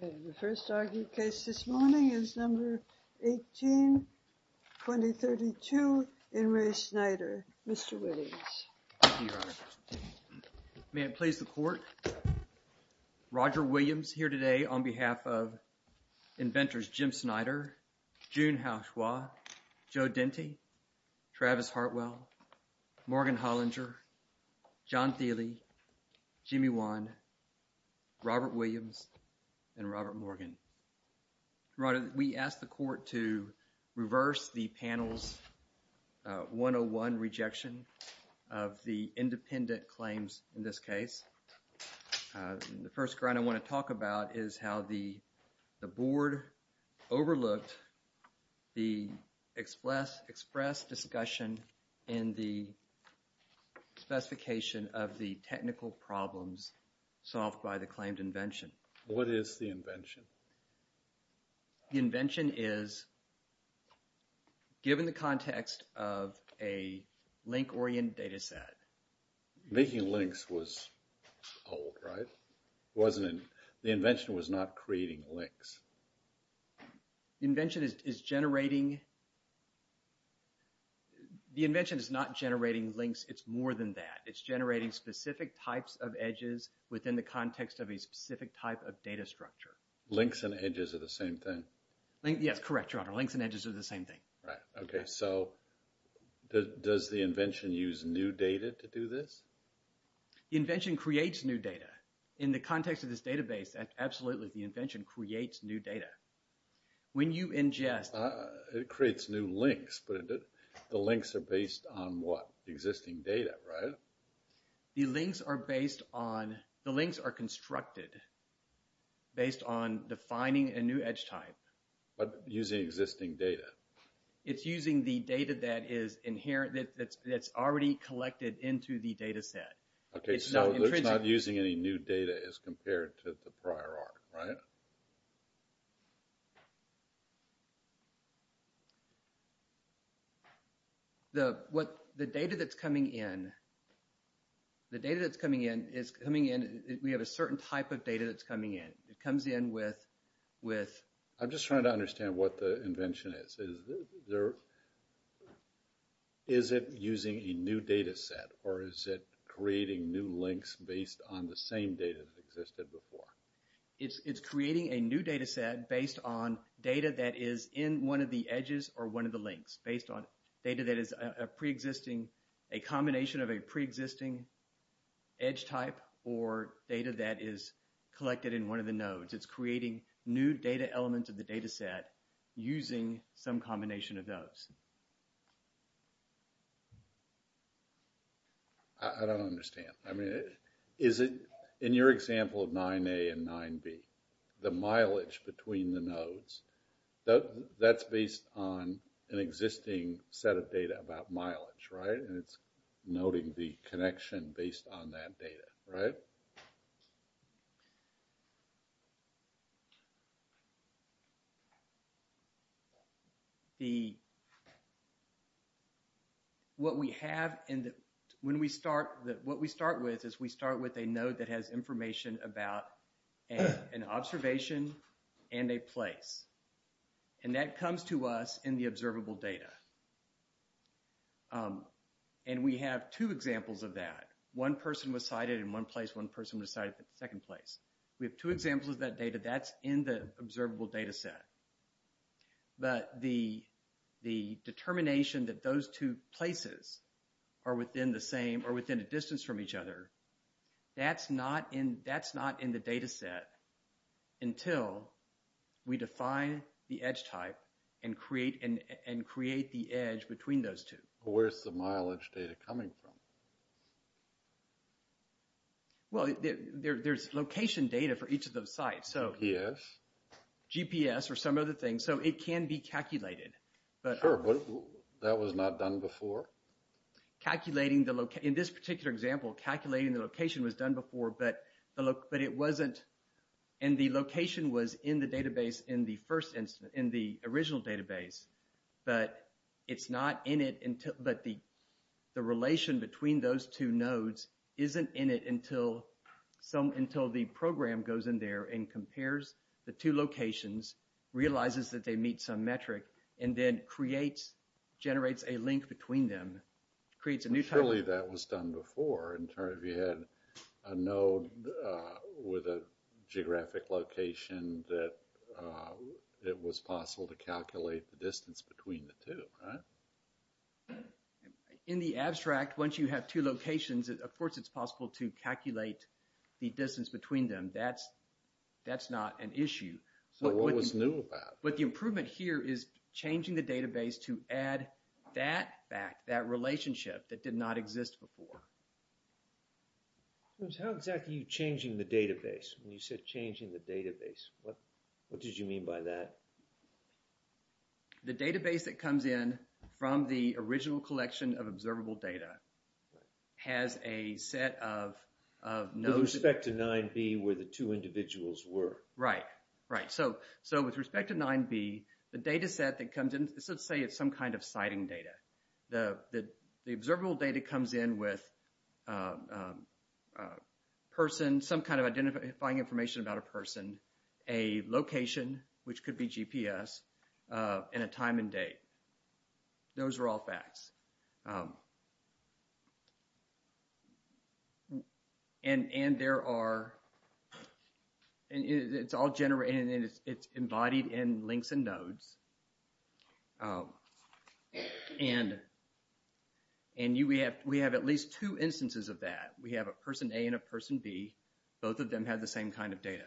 The first argued case this morning is number 18-2032 in Re Snyder, Mr. Williams. Thank you, Your Honor. May it please the Court, Roger Williams here today on behalf of inventors Jim Snyder, June Haoshua, Joe Dente, Travis Hartwell, Morgan Hollinger, John Thiele, Jimmy Wan, Robert Williams, and Robert Morgan. We asked the Court to reverse the panel's 101 rejection of the independent claims in this case. The first ground I want to talk about is how the Board overlooked the express discussion in the specification of the technical problems solved by the claimed invention. What is the invention? The invention is, given the context of a link-oriented data set. Making links was old, right? The invention was not creating links. The invention is not generating links. It's more than that. It's generating specific types of edges within the context of a specific type of data structure. Links and edges are the same thing. Yes, correct, Your Honor. Links and edges are the same thing. Right. Okay, so does the invention use new data to do this? The invention creates new data. In the context of this database, absolutely, the invention creates new data. When you ingest... It creates new links, but the links are based on what? Existing data, right? The links are based on... The links are constructed based on defining a new edge type. But using existing data. It's using the data that is inherent, that's already collected into the data set. Okay, so it's not using any new data as compared to the prior art, right? The data that's coming in, the data that's coming in, we have a certain type of data that's coming in. It comes in with... I'm just trying to understand what the invention is. Is it using a new data set, or is it creating new links based on the same data that existed before? It's creating a new data set based on data that is in one of the edges or one of the links, based on data that is a pre-existing, a combination of a pre-existing edge type or data that is collected in one of the nodes. So it's creating new data elements of the data set using some combination of those. I don't understand. I mean, is it... In your example of 9A and 9B, the mileage between the nodes, that's based on an existing set of data about mileage, right? And it's noting the connection based on that data, right? So what we have in the... When we start... What we start with is we start with a node that has information about an observation and a place. And that comes to us in the observable data. And we have two examples of that. One person was sighted in one place, one person was sighted in the second place. We have two examples of that data. That's in the observable data set. But the determination that those two places are within the same or within a distance from each other, that's not in the data set until we define the edge type and create the edge between those two. Where's the mileage data coming from? Well, there's location data for each of those sites. So... GPS. GPS or some other thing. So it can be calculated. Sure, but that was not done before? Calculating the... In this particular example, calculating the location was done before, but it wasn't... And the location was in the database in the first instance, in the original database. But it's not in it until... But the relation between those two nodes isn't in it until the program goes in there and compares the two locations, realizes that they meet some metric, and then creates, generates a link between them. Creates a new type... Surely that was done before. In turn, if you had a node with a geographic location that it was possible to calculate the distance between the two, right? In the abstract, once you have two locations, of course it's possible to calculate the distance between them. That's not an issue. So what was new about it? But the improvement here is changing the database to add that back, that relationship that did not exist before. How exactly are you changing the database? When you said changing the database, what did you mean by that? The database that comes in from the original collection of observable data has a set of nodes... With respect to 9b, where the two individuals were. Right. Right. So with respect to 9b, the data set that comes in, let's say it's some kind of citing data. The observable data comes in with a person, some kind of identifying information about a person, a location, which could be GPS, and a time and date. Those are all facts. And there are... It's all generated and it's embodied in links and nodes. And we have at least two instances of that. We have a person A and a person B. Both of them have the same kind of data.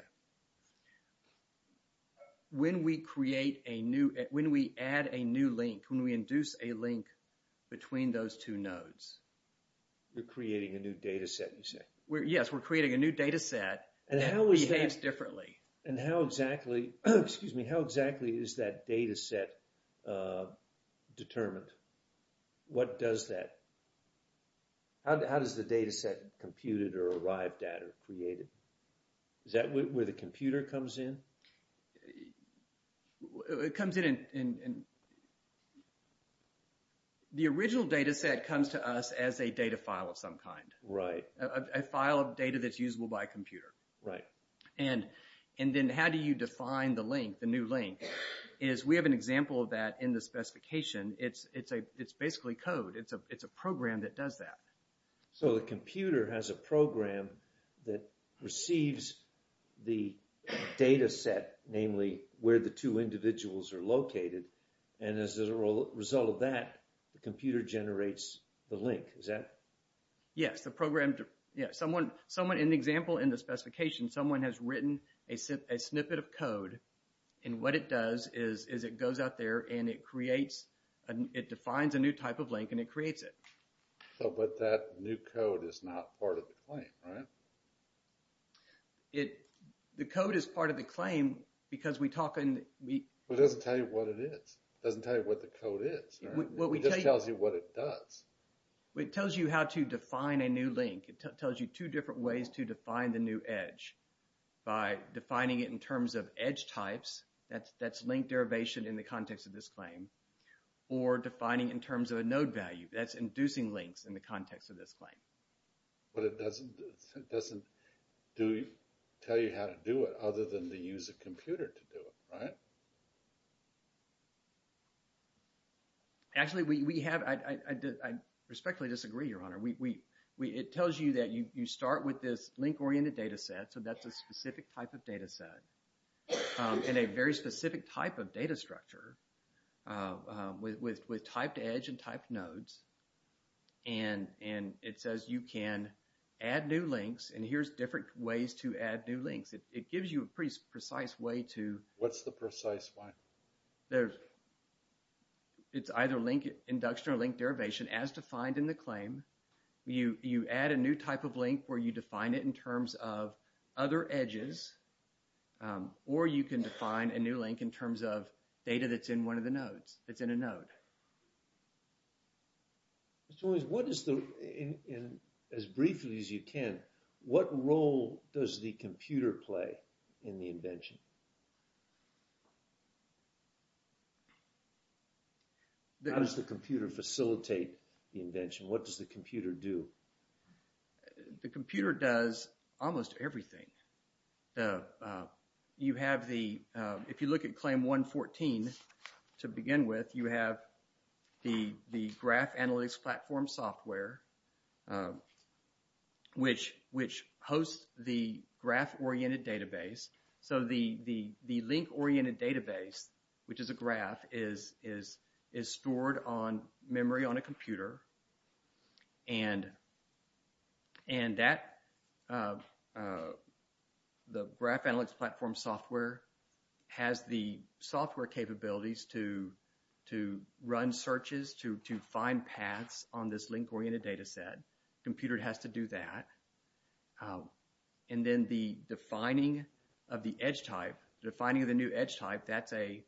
When we create a new... When we add a new link, when we induce a link between those two nodes... You're creating a new data set, you say? Yes, we're creating a new data set that behaves differently. And how exactly... Excuse me. How exactly is that data set determined? What does that... How does the data set computed or arrived at or created? Is that where the computer comes in? It comes in in... The original data set comes to us as a data file of some kind. Right. A file of data that's usable by a computer. Right. And then how do you define the link, the new link? Is we have an example of that in the specification. It's basically code. It's a program that does that. So the computer has a program that receives the data set, namely where the two individuals are located. And as a result of that, the computer generates the link. Is that... Yes. The program... Someone... In the example in the specification, someone has written a snippet of code. And what it does is it goes out there and it creates... It defines a new type of link and it creates it. So but that new code is not part of the claim, right? The code is part of the claim because we talk in... It doesn't tell you what it is. It doesn't tell you what the code is. It just tells you what it does. It tells you how to define a new link. It tells you two different ways to define the new edge. By defining it in terms of edge types, that's link derivation in the context of this claim. Or defining it in terms of a node value, that's inducing links in the context of this claim. But it doesn't tell you how to do it other than to use a computer to do it, right? Actually, we have... I respectfully disagree, Your Honor. It tells you that you start with this link-oriented data set, so that's a specific type of data set, and a very specific type of data structure with typed edge and typed nodes. And it says you can add new links, and here's different ways to add new links. It gives you a pretty precise way to... What's the precise way? It's either link induction or link derivation as defined in the claim. You add a new type of link where you define it in terms of other edges, or you can define a new link in terms of data that's in one of the nodes, that's in a node. Mr. Williams, what is the... As briefly as you can, what role does the computer play in the invention? How does the computer facilitate the invention? What does the computer do? The computer does almost everything. You have the... If you look at Claim 114, to begin with, you have the graph analytics platform software, which hosts the graph-oriented database. So the link-oriented database, which is a graph, is stored on memory on a computer, and that... The graph analytics platform software has the software capabilities to run searches, to find paths on this link-oriented data set. The computer has to do that. And then the defining of the edge type, the defining of the new edge type, that's a...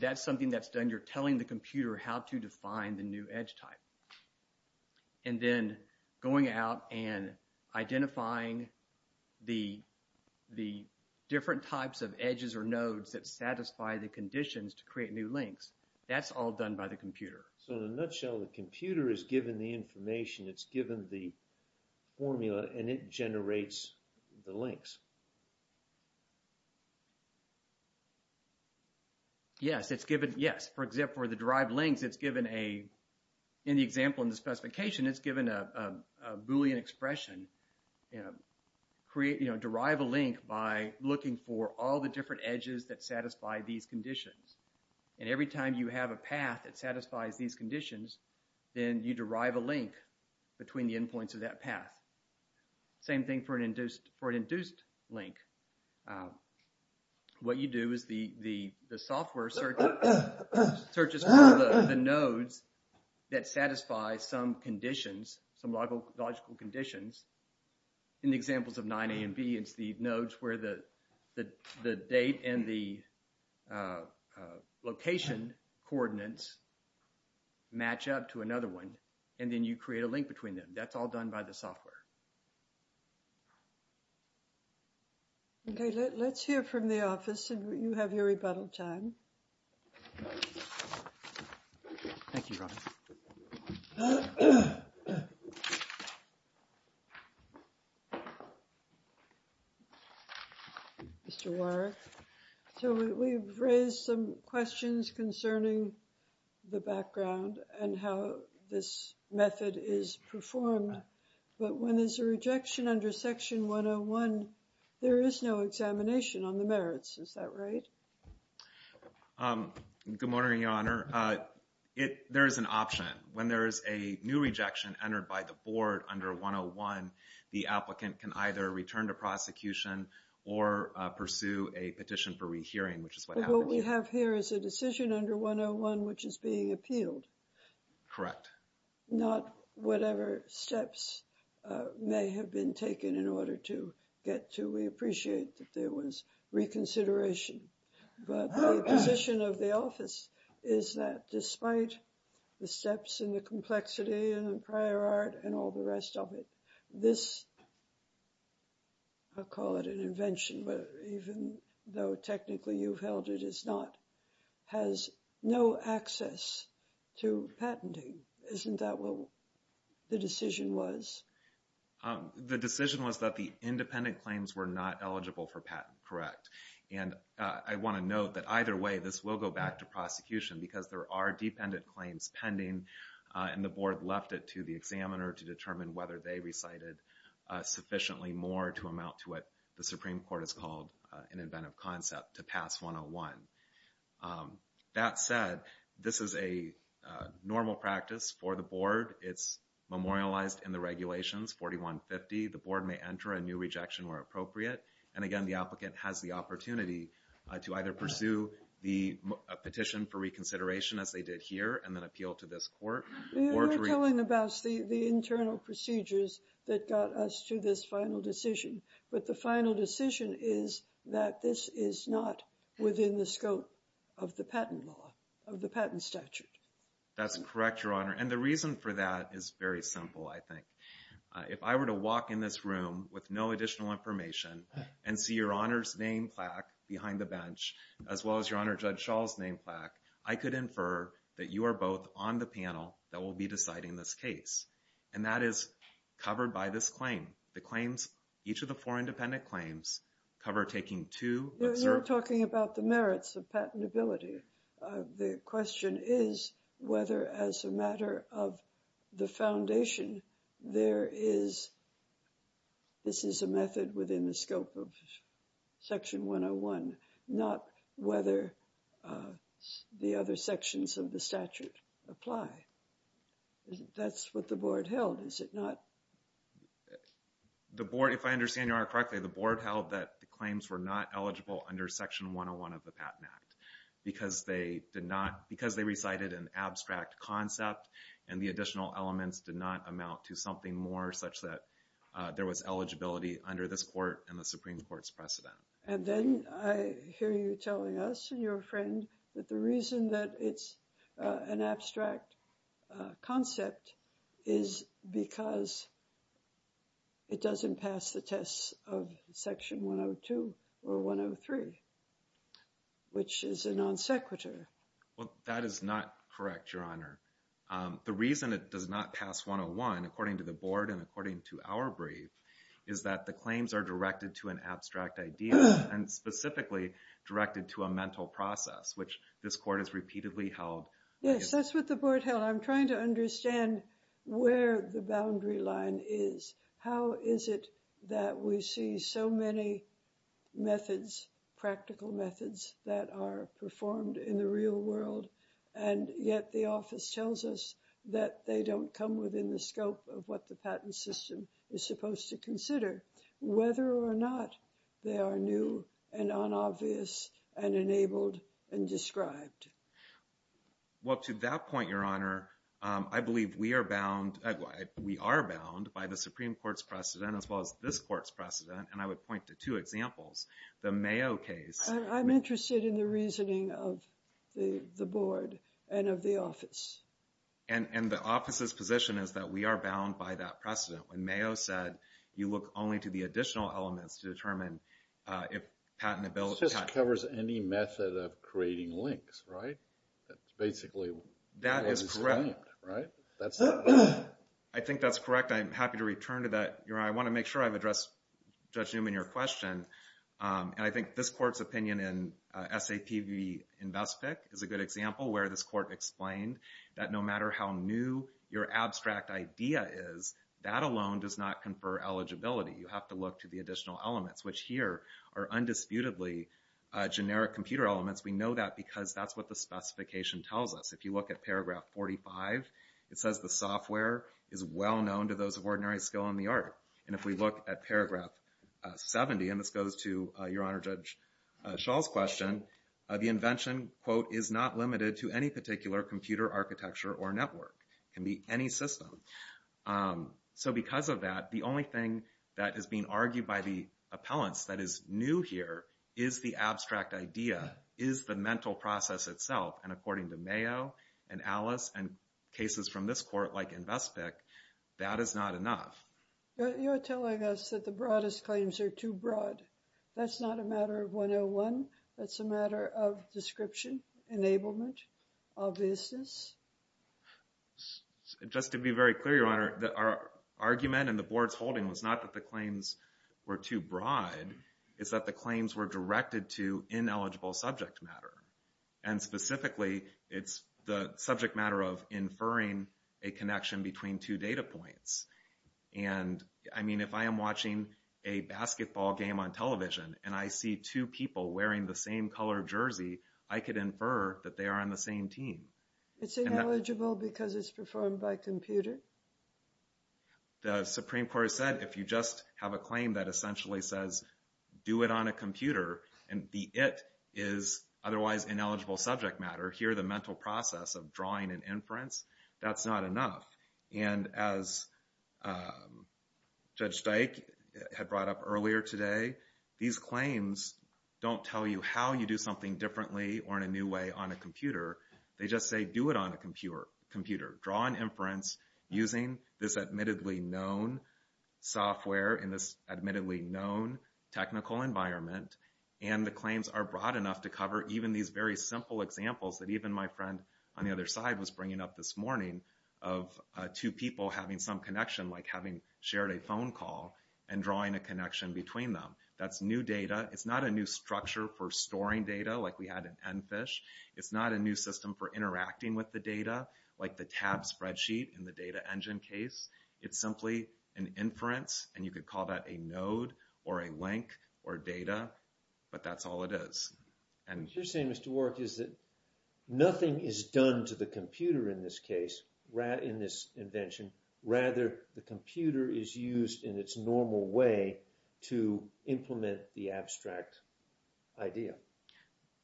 That's something that's done. You're telling the computer how to define the new edge type. And then going out and identifying the different types of edges or nodes that satisfy the conditions to create new links. That's all done by the computer. So in a nutshell, the computer is given the information. It's given the formula, and it generates the links. Yes, it's given... Yes, for the derived links, it's given a... In the example in the specification, it's given a Boolean expression. You know, derive a link by looking for all the different edges that satisfy these conditions. And every time you have a path that satisfies these conditions, then you derive a link between the endpoints of that path. Same thing for an induced link. What you do is the software searches for the nodes that satisfy some conditions, some logical conditions. In the examples of 9a and b, it's the nodes where the date and the location coordinates match up to another one, and then you create a link between them. That's all done by the software. Okay, let's hear from the office, and you have your rebuttal time. Thank you, Robin. Mr. Warrick, so we've raised some questions concerning the background and how this method is performed. But when there's a rejection under Section 101, there is no examination on the merits. Is that right? Good morning, Your Honor. There is an option. When there is a new rejection entered by the board under 101, the applicant can either return to prosecution or pursue a petition for rehearing, which is what happens here. What we have here is a decision under 101, which is being appealed. Correct. Not whatever steps may have been taken in order to get to. We appreciate that there was reconsideration. But the position of the office is that despite the steps and the complexity and the prior art and all the rest of it, this, I'll call it an invention, even though technically you've held it is not, has no access to patenting. Isn't that what the decision was? The decision was that the independent claims were not eligible for patent. Correct. And I want to note that either way this will go back to prosecution because there are dependent claims pending, and the board left it to the examiner to determine whether they recited sufficiently more to amount to what the Supreme Court has called an inventive concept to pass 101. That said, this is a normal practice for the board. It's memorialized in the regulations, 4150. The board may enter a new rejection where appropriate. And, again, the applicant has the opportunity to either pursue the petition for reconsideration, as they did here, and then appeal to this court. You were telling about the internal procedures that got us to this final decision. But the final decision is that this is not within the scope of the patent law, of the patent statute. That's correct, Your Honor. And the reason for that is very simple, I think. If I were to walk in this room with no additional information and see Your Honor's name plaque behind the bench, as well as Your Honor Judge Schall's name plaque, I could infer that you are both on the panel that will be deciding this case. And that is covered by this claim. The claims, each of the four independent claims, cover taking two. You're talking about the merits of patentability. The question is whether, as a matter of the foundation, this is a method within the scope of Section 101, not whether the other sections of the statute apply. That's what the board held, is it not? If I understand Your Honor correctly, the board held that the claims were not eligible under Section 101 of the Patent Act because they recited an abstract concept and the additional elements did not amount to something more such that there was eligibility under this court and the Supreme Court's precedent. And then I hear you telling us, your friend, that the reason that it's an abstract concept is because it doesn't pass the tests of Section 102 or 103, which is a non sequitur. Well, that is not correct, Your Honor. The reason it does not pass 101, according to the board and according to our brief, is that the claims are directed to an abstract idea and specifically directed to a mental process, which this court has repeatedly held. Yes, that's what the board held. Well, I'm trying to understand where the boundary line is. How is it that we see so many methods, practical methods that are performed in the real world and yet the office tells us that they don't come within the scope of what the patent system is supposed to consider, whether or not they are new and unobvious and enabled and described? Well, to that point, Your Honor, I believe we are bound by the Supreme Court's precedent as well as this court's precedent, and I would point to two examples. The Mayo case... I'm interested in the reasoning of the board and of the office. And the office's position is that we are bound by that precedent. When Mayo said you look only to the additional elements to determine if patentability... That covers any method of creating links, right? That's basically what was described, right? That is correct. I think that's correct. I'm happy to return to that. Your Honor, I want to make sure I've addressed Judge Newman, your question. And I think this court's opinion in SAP v. InvestPIC is a good example where this court explained that no matter how new your abstract idea is, that alone does not confer eligibility. You have to look to the additional elements, which here are undisputedly generic computer elements. We know that because that's what the specification tells us. If you look at paragraph 45, it says the software is well known to those of ordinary skill in the art. And if we look at paragraph 70, and this goes to Your Honor, Judge Schall's question, the invention, quote, is not limited to any particular computer architecture or network. It can be any system. So because of that, the only thing that is being argued by the appellants that is new here is the abstract idea, is the mental process itself. And according to Mayo and Alice and cases from this court like InvestPIC, that is not enough. You're telling us that the broadest claims are too broad. That's not a matter of 101. That's a matter of description, enablement, obviousness. Just to be very clear, Your Honor, our argument in the board's holding was not that the claims were too broad. It's that the claims were directed to ineligible subject matter. And specifically, it's the subject matter of inferring a connection between two data points. And, I mean, if I am watching a basketball game on television and I see two people wearing the same color jersey, I could infer that they are on the same team. It's ineligible because it's performed by computer? The Supreme Court has said if you just have a claim that essentially says do it on a computer and the it is otherwise ineligible subject matter, here the mental process of drawing and inference, that's not enough. And as Judge Dyke had brought up earlier today, these claims don't tell you how you do something differently or in a new way on a computer. They just say do it on a computer. Draw and inference using this admittedly known software in this admittedly known technical environment. And the claims are broad enough to cover even these very simple examples that even my friend on the other side was bringing up this morning of two people having some connection, like having shared a phone call and drawing a connection between them. That's new data. It's not a new structure for storing data like we had in EnFish. It's not a new system for interacting with the data like the tab spreadsheet in the Data Engine case. It's simply an inference and you could call that a node or a link or data, but that's all it is. What you're saying, Mr. Warrick, is that nothing is done to the computer in this case, in this invention. Rather, the computer is used in its normal way to implement the abstract idea.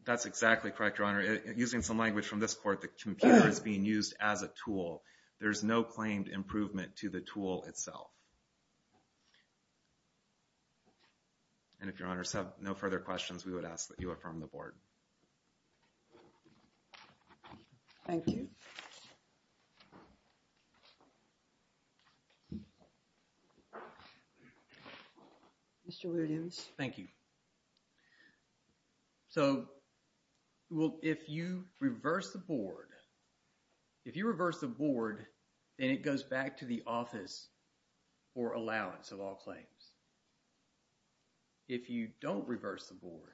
That's exactly correct, Your Honor. Using some language from this court, the computer is being used as a tool. There's no claimed improvement to the tool itself. And if Your Honors have no further questions, we would ask that you affirm the board. Thank you. Mr. Williams. Thank you. So, well, if you reverse the board, if you reverse the board, then it goes back to the office for allowance of all claims. If you don't reverse the board,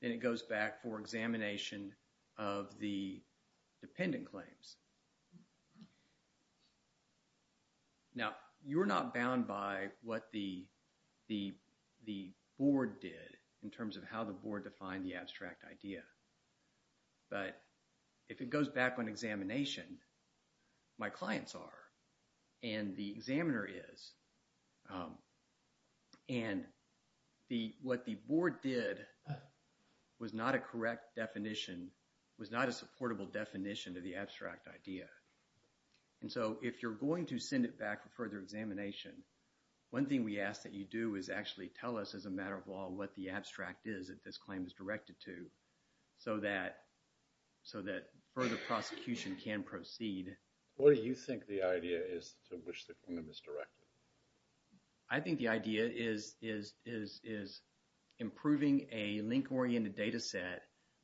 then it goes back for examination of the dependent claims. Now, you're not bound by what the board did in terms of how the board defined the abstract idea. But if it goes back on examination, my clients are, and the examiner is. And what the board did was not a correct definition, was not a supportable definition of the abstract idea. And so if you're going to send it back for further examination, one thing we ask that you do is actually tell us, as a matter of law, what the abstract is that this claim is directed to so that further prosecution can proceed. What do you think the idea is to which the claim is directed? I think the idea is improving a link-oriented data set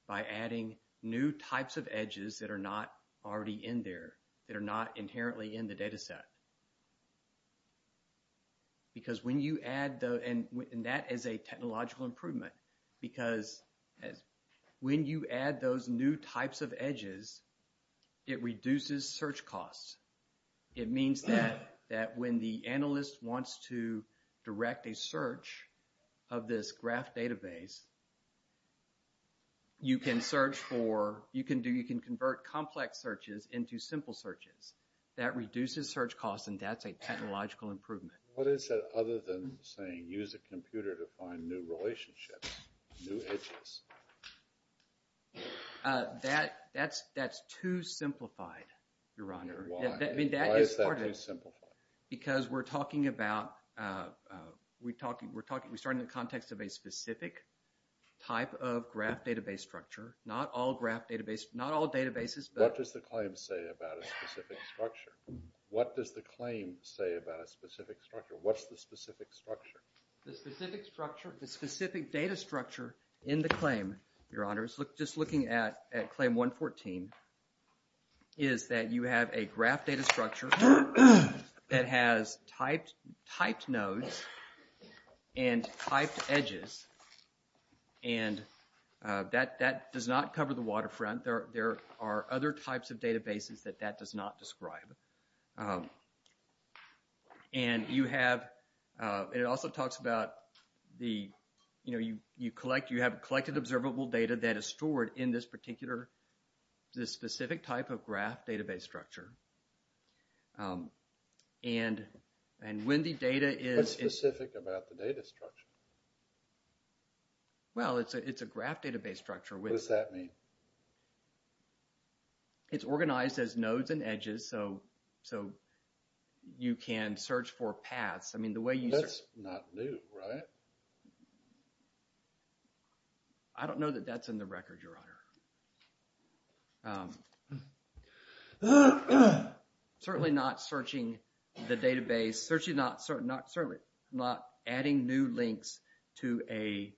by adding new types of edges that are not already in there, that are not inherently in the data set. Because when you add those, and that is a technological improvement, because when you add those new types of edges, it reduces search costs. of this graph database, you can convert complex searches into simple searches. That reduces search costs, and that's a technological improvement. What is that other than saying, use a computer to find new relationships, new edges? That's too simplified, Your Honor. Why is that too simplified? Because we're talking about, we're starting in the context of a specific type of graph database structure. Not all graph databases, not all databases, but... What does the claim say about a specific structure? What does the claim say about a specific structure? What's the specific structure? The specific structure, the specific data structure in the claim, Your Honors, just looking at Claim 114, is that you have a graph data structure that has typed nodes and typed edges, and that does not cover the waterfront. There are other types of databases that that does not describe. And you have, and it also talks about, you have collected observable data that is stored in this particular, this specific type of graph database structure. And when the data is... What's specific about the data structure? Well, it's a graph database structure. What does that mean? It's organized as nodes and edges, so you can search for paths. I mean, the way you... That's not new, right? I don't know that that's in the record, Your Honor. Certainly not searching the database, certainly not adding new links to a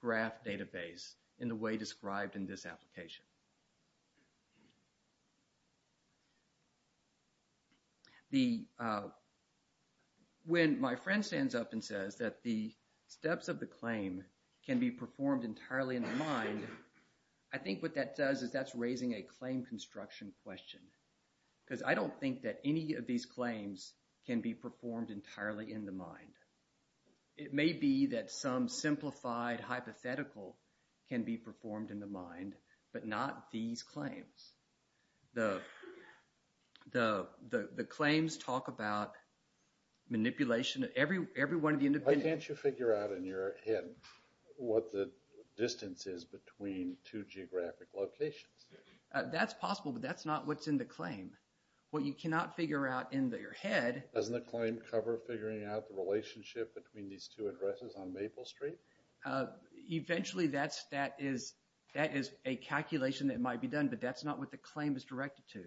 graph database in the way described in this application. The... When my friend stands up and says that the steps of the claim can be performed entirely in the mind, I think what that does is that's raising a claim construction question, because I don't think that any of these claims can be performed entirely in the mind. It may be that some simplified hypothetical can be performed in the mind, but not these claims. The claims talk about manipulation. Every one of the independent... Why can't you figure out in your head what the distance is between two geographic locations? That's possible, but that's not what's in the claim. What you cannot figure out in your head... Doesn't the claim cover figuring out the relationship between these two addresses on Maple Street? Eventually, that is a calculation that might be done, but that's not what the claim is directed to.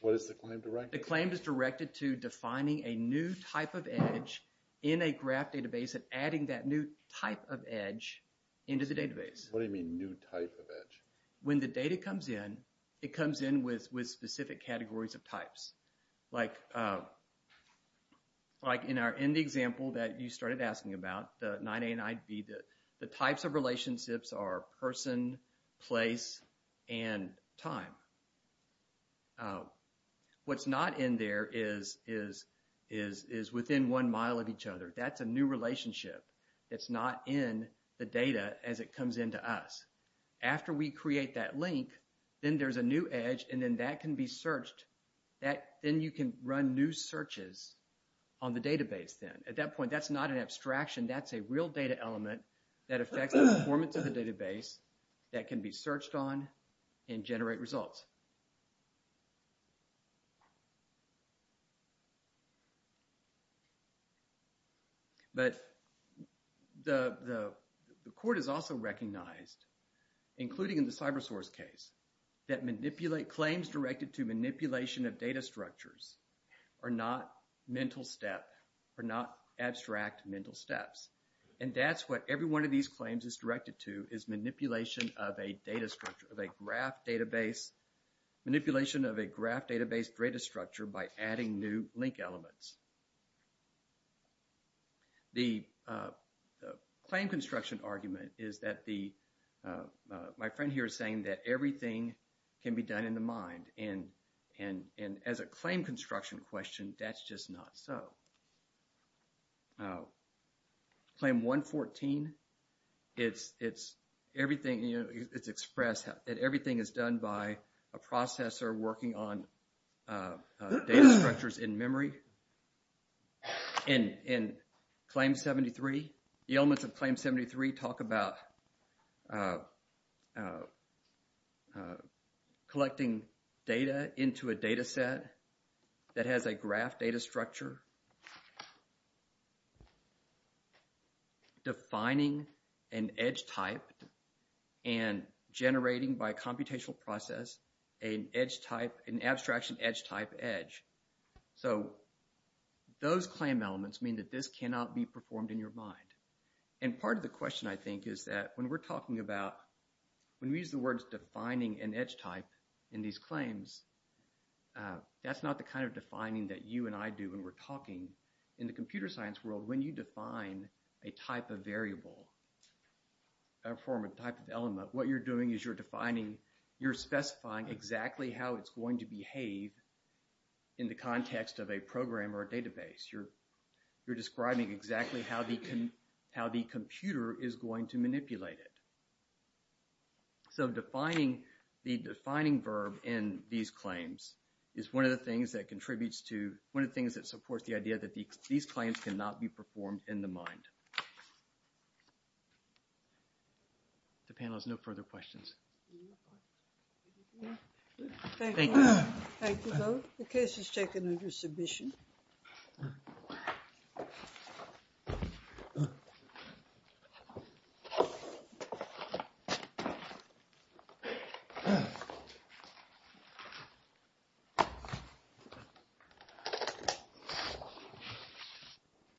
What is the claim directed to? The claim is directed to defining a new type of edge in a graph database and adding that new type of edge into the database. What do you mean, new type of edge? When the data comes in, it comes in with specific categories of types. Like in the example that you started asking about, the 9A and 9B, the types of relationships are person, place, and time. What's not in there is within one mile of each other. That's a new relationship. It's not in the data as it comes into us. After we create that link, then there's a new edge, and then that can be searched. Then you can run new searches on the database then. At that point, that's not an abstraction. That's a real data element that affects the performance of the database that can be searched on and generate results. But the court has also recognized, including in the CyberSource case, that claims directed to manipulation of data structures are not mental step, are not abstract mental steps. And that's what every one of these claims is directed to, is manipulation of a data structure, of a graph database, manipulation of a graph database data structure by adding new link elements. The claim construction argument is that the, my friend here is saying that everything can be done in the mind. And as a claim construction question, that's just not so. Claim 114, it's everything, it's expressed that everything is done by a processor working on data structures in memory. In Claim 73, the elements of Claim 73 talk about collecting data into a data set that has a graph data structure, defining an edge type, and generating by computational process an edge type, an abstraction edge type edge. So those claim elements mean that this cannot be performed in your mind. And part of the question I think is that when we're talking about, when we use the words defining an edge type in these claims, that's not the kind of defining that you and I do when we're talking. In the computer science world, when you define a type of variable, a form of type of element, what you're doing is you're defining, you're specifying exactly how it's going to behave in the context of a program or a database. You're describing exactly how the computer is going to manipulate it. So defining the defining verb in these claims is one of the things that contributes to, one of the things that supports the idea that these claims cannot be performed in the mind. The panel has no further questions. Thank you. Thank you both. The case is taken under submission. Thank you.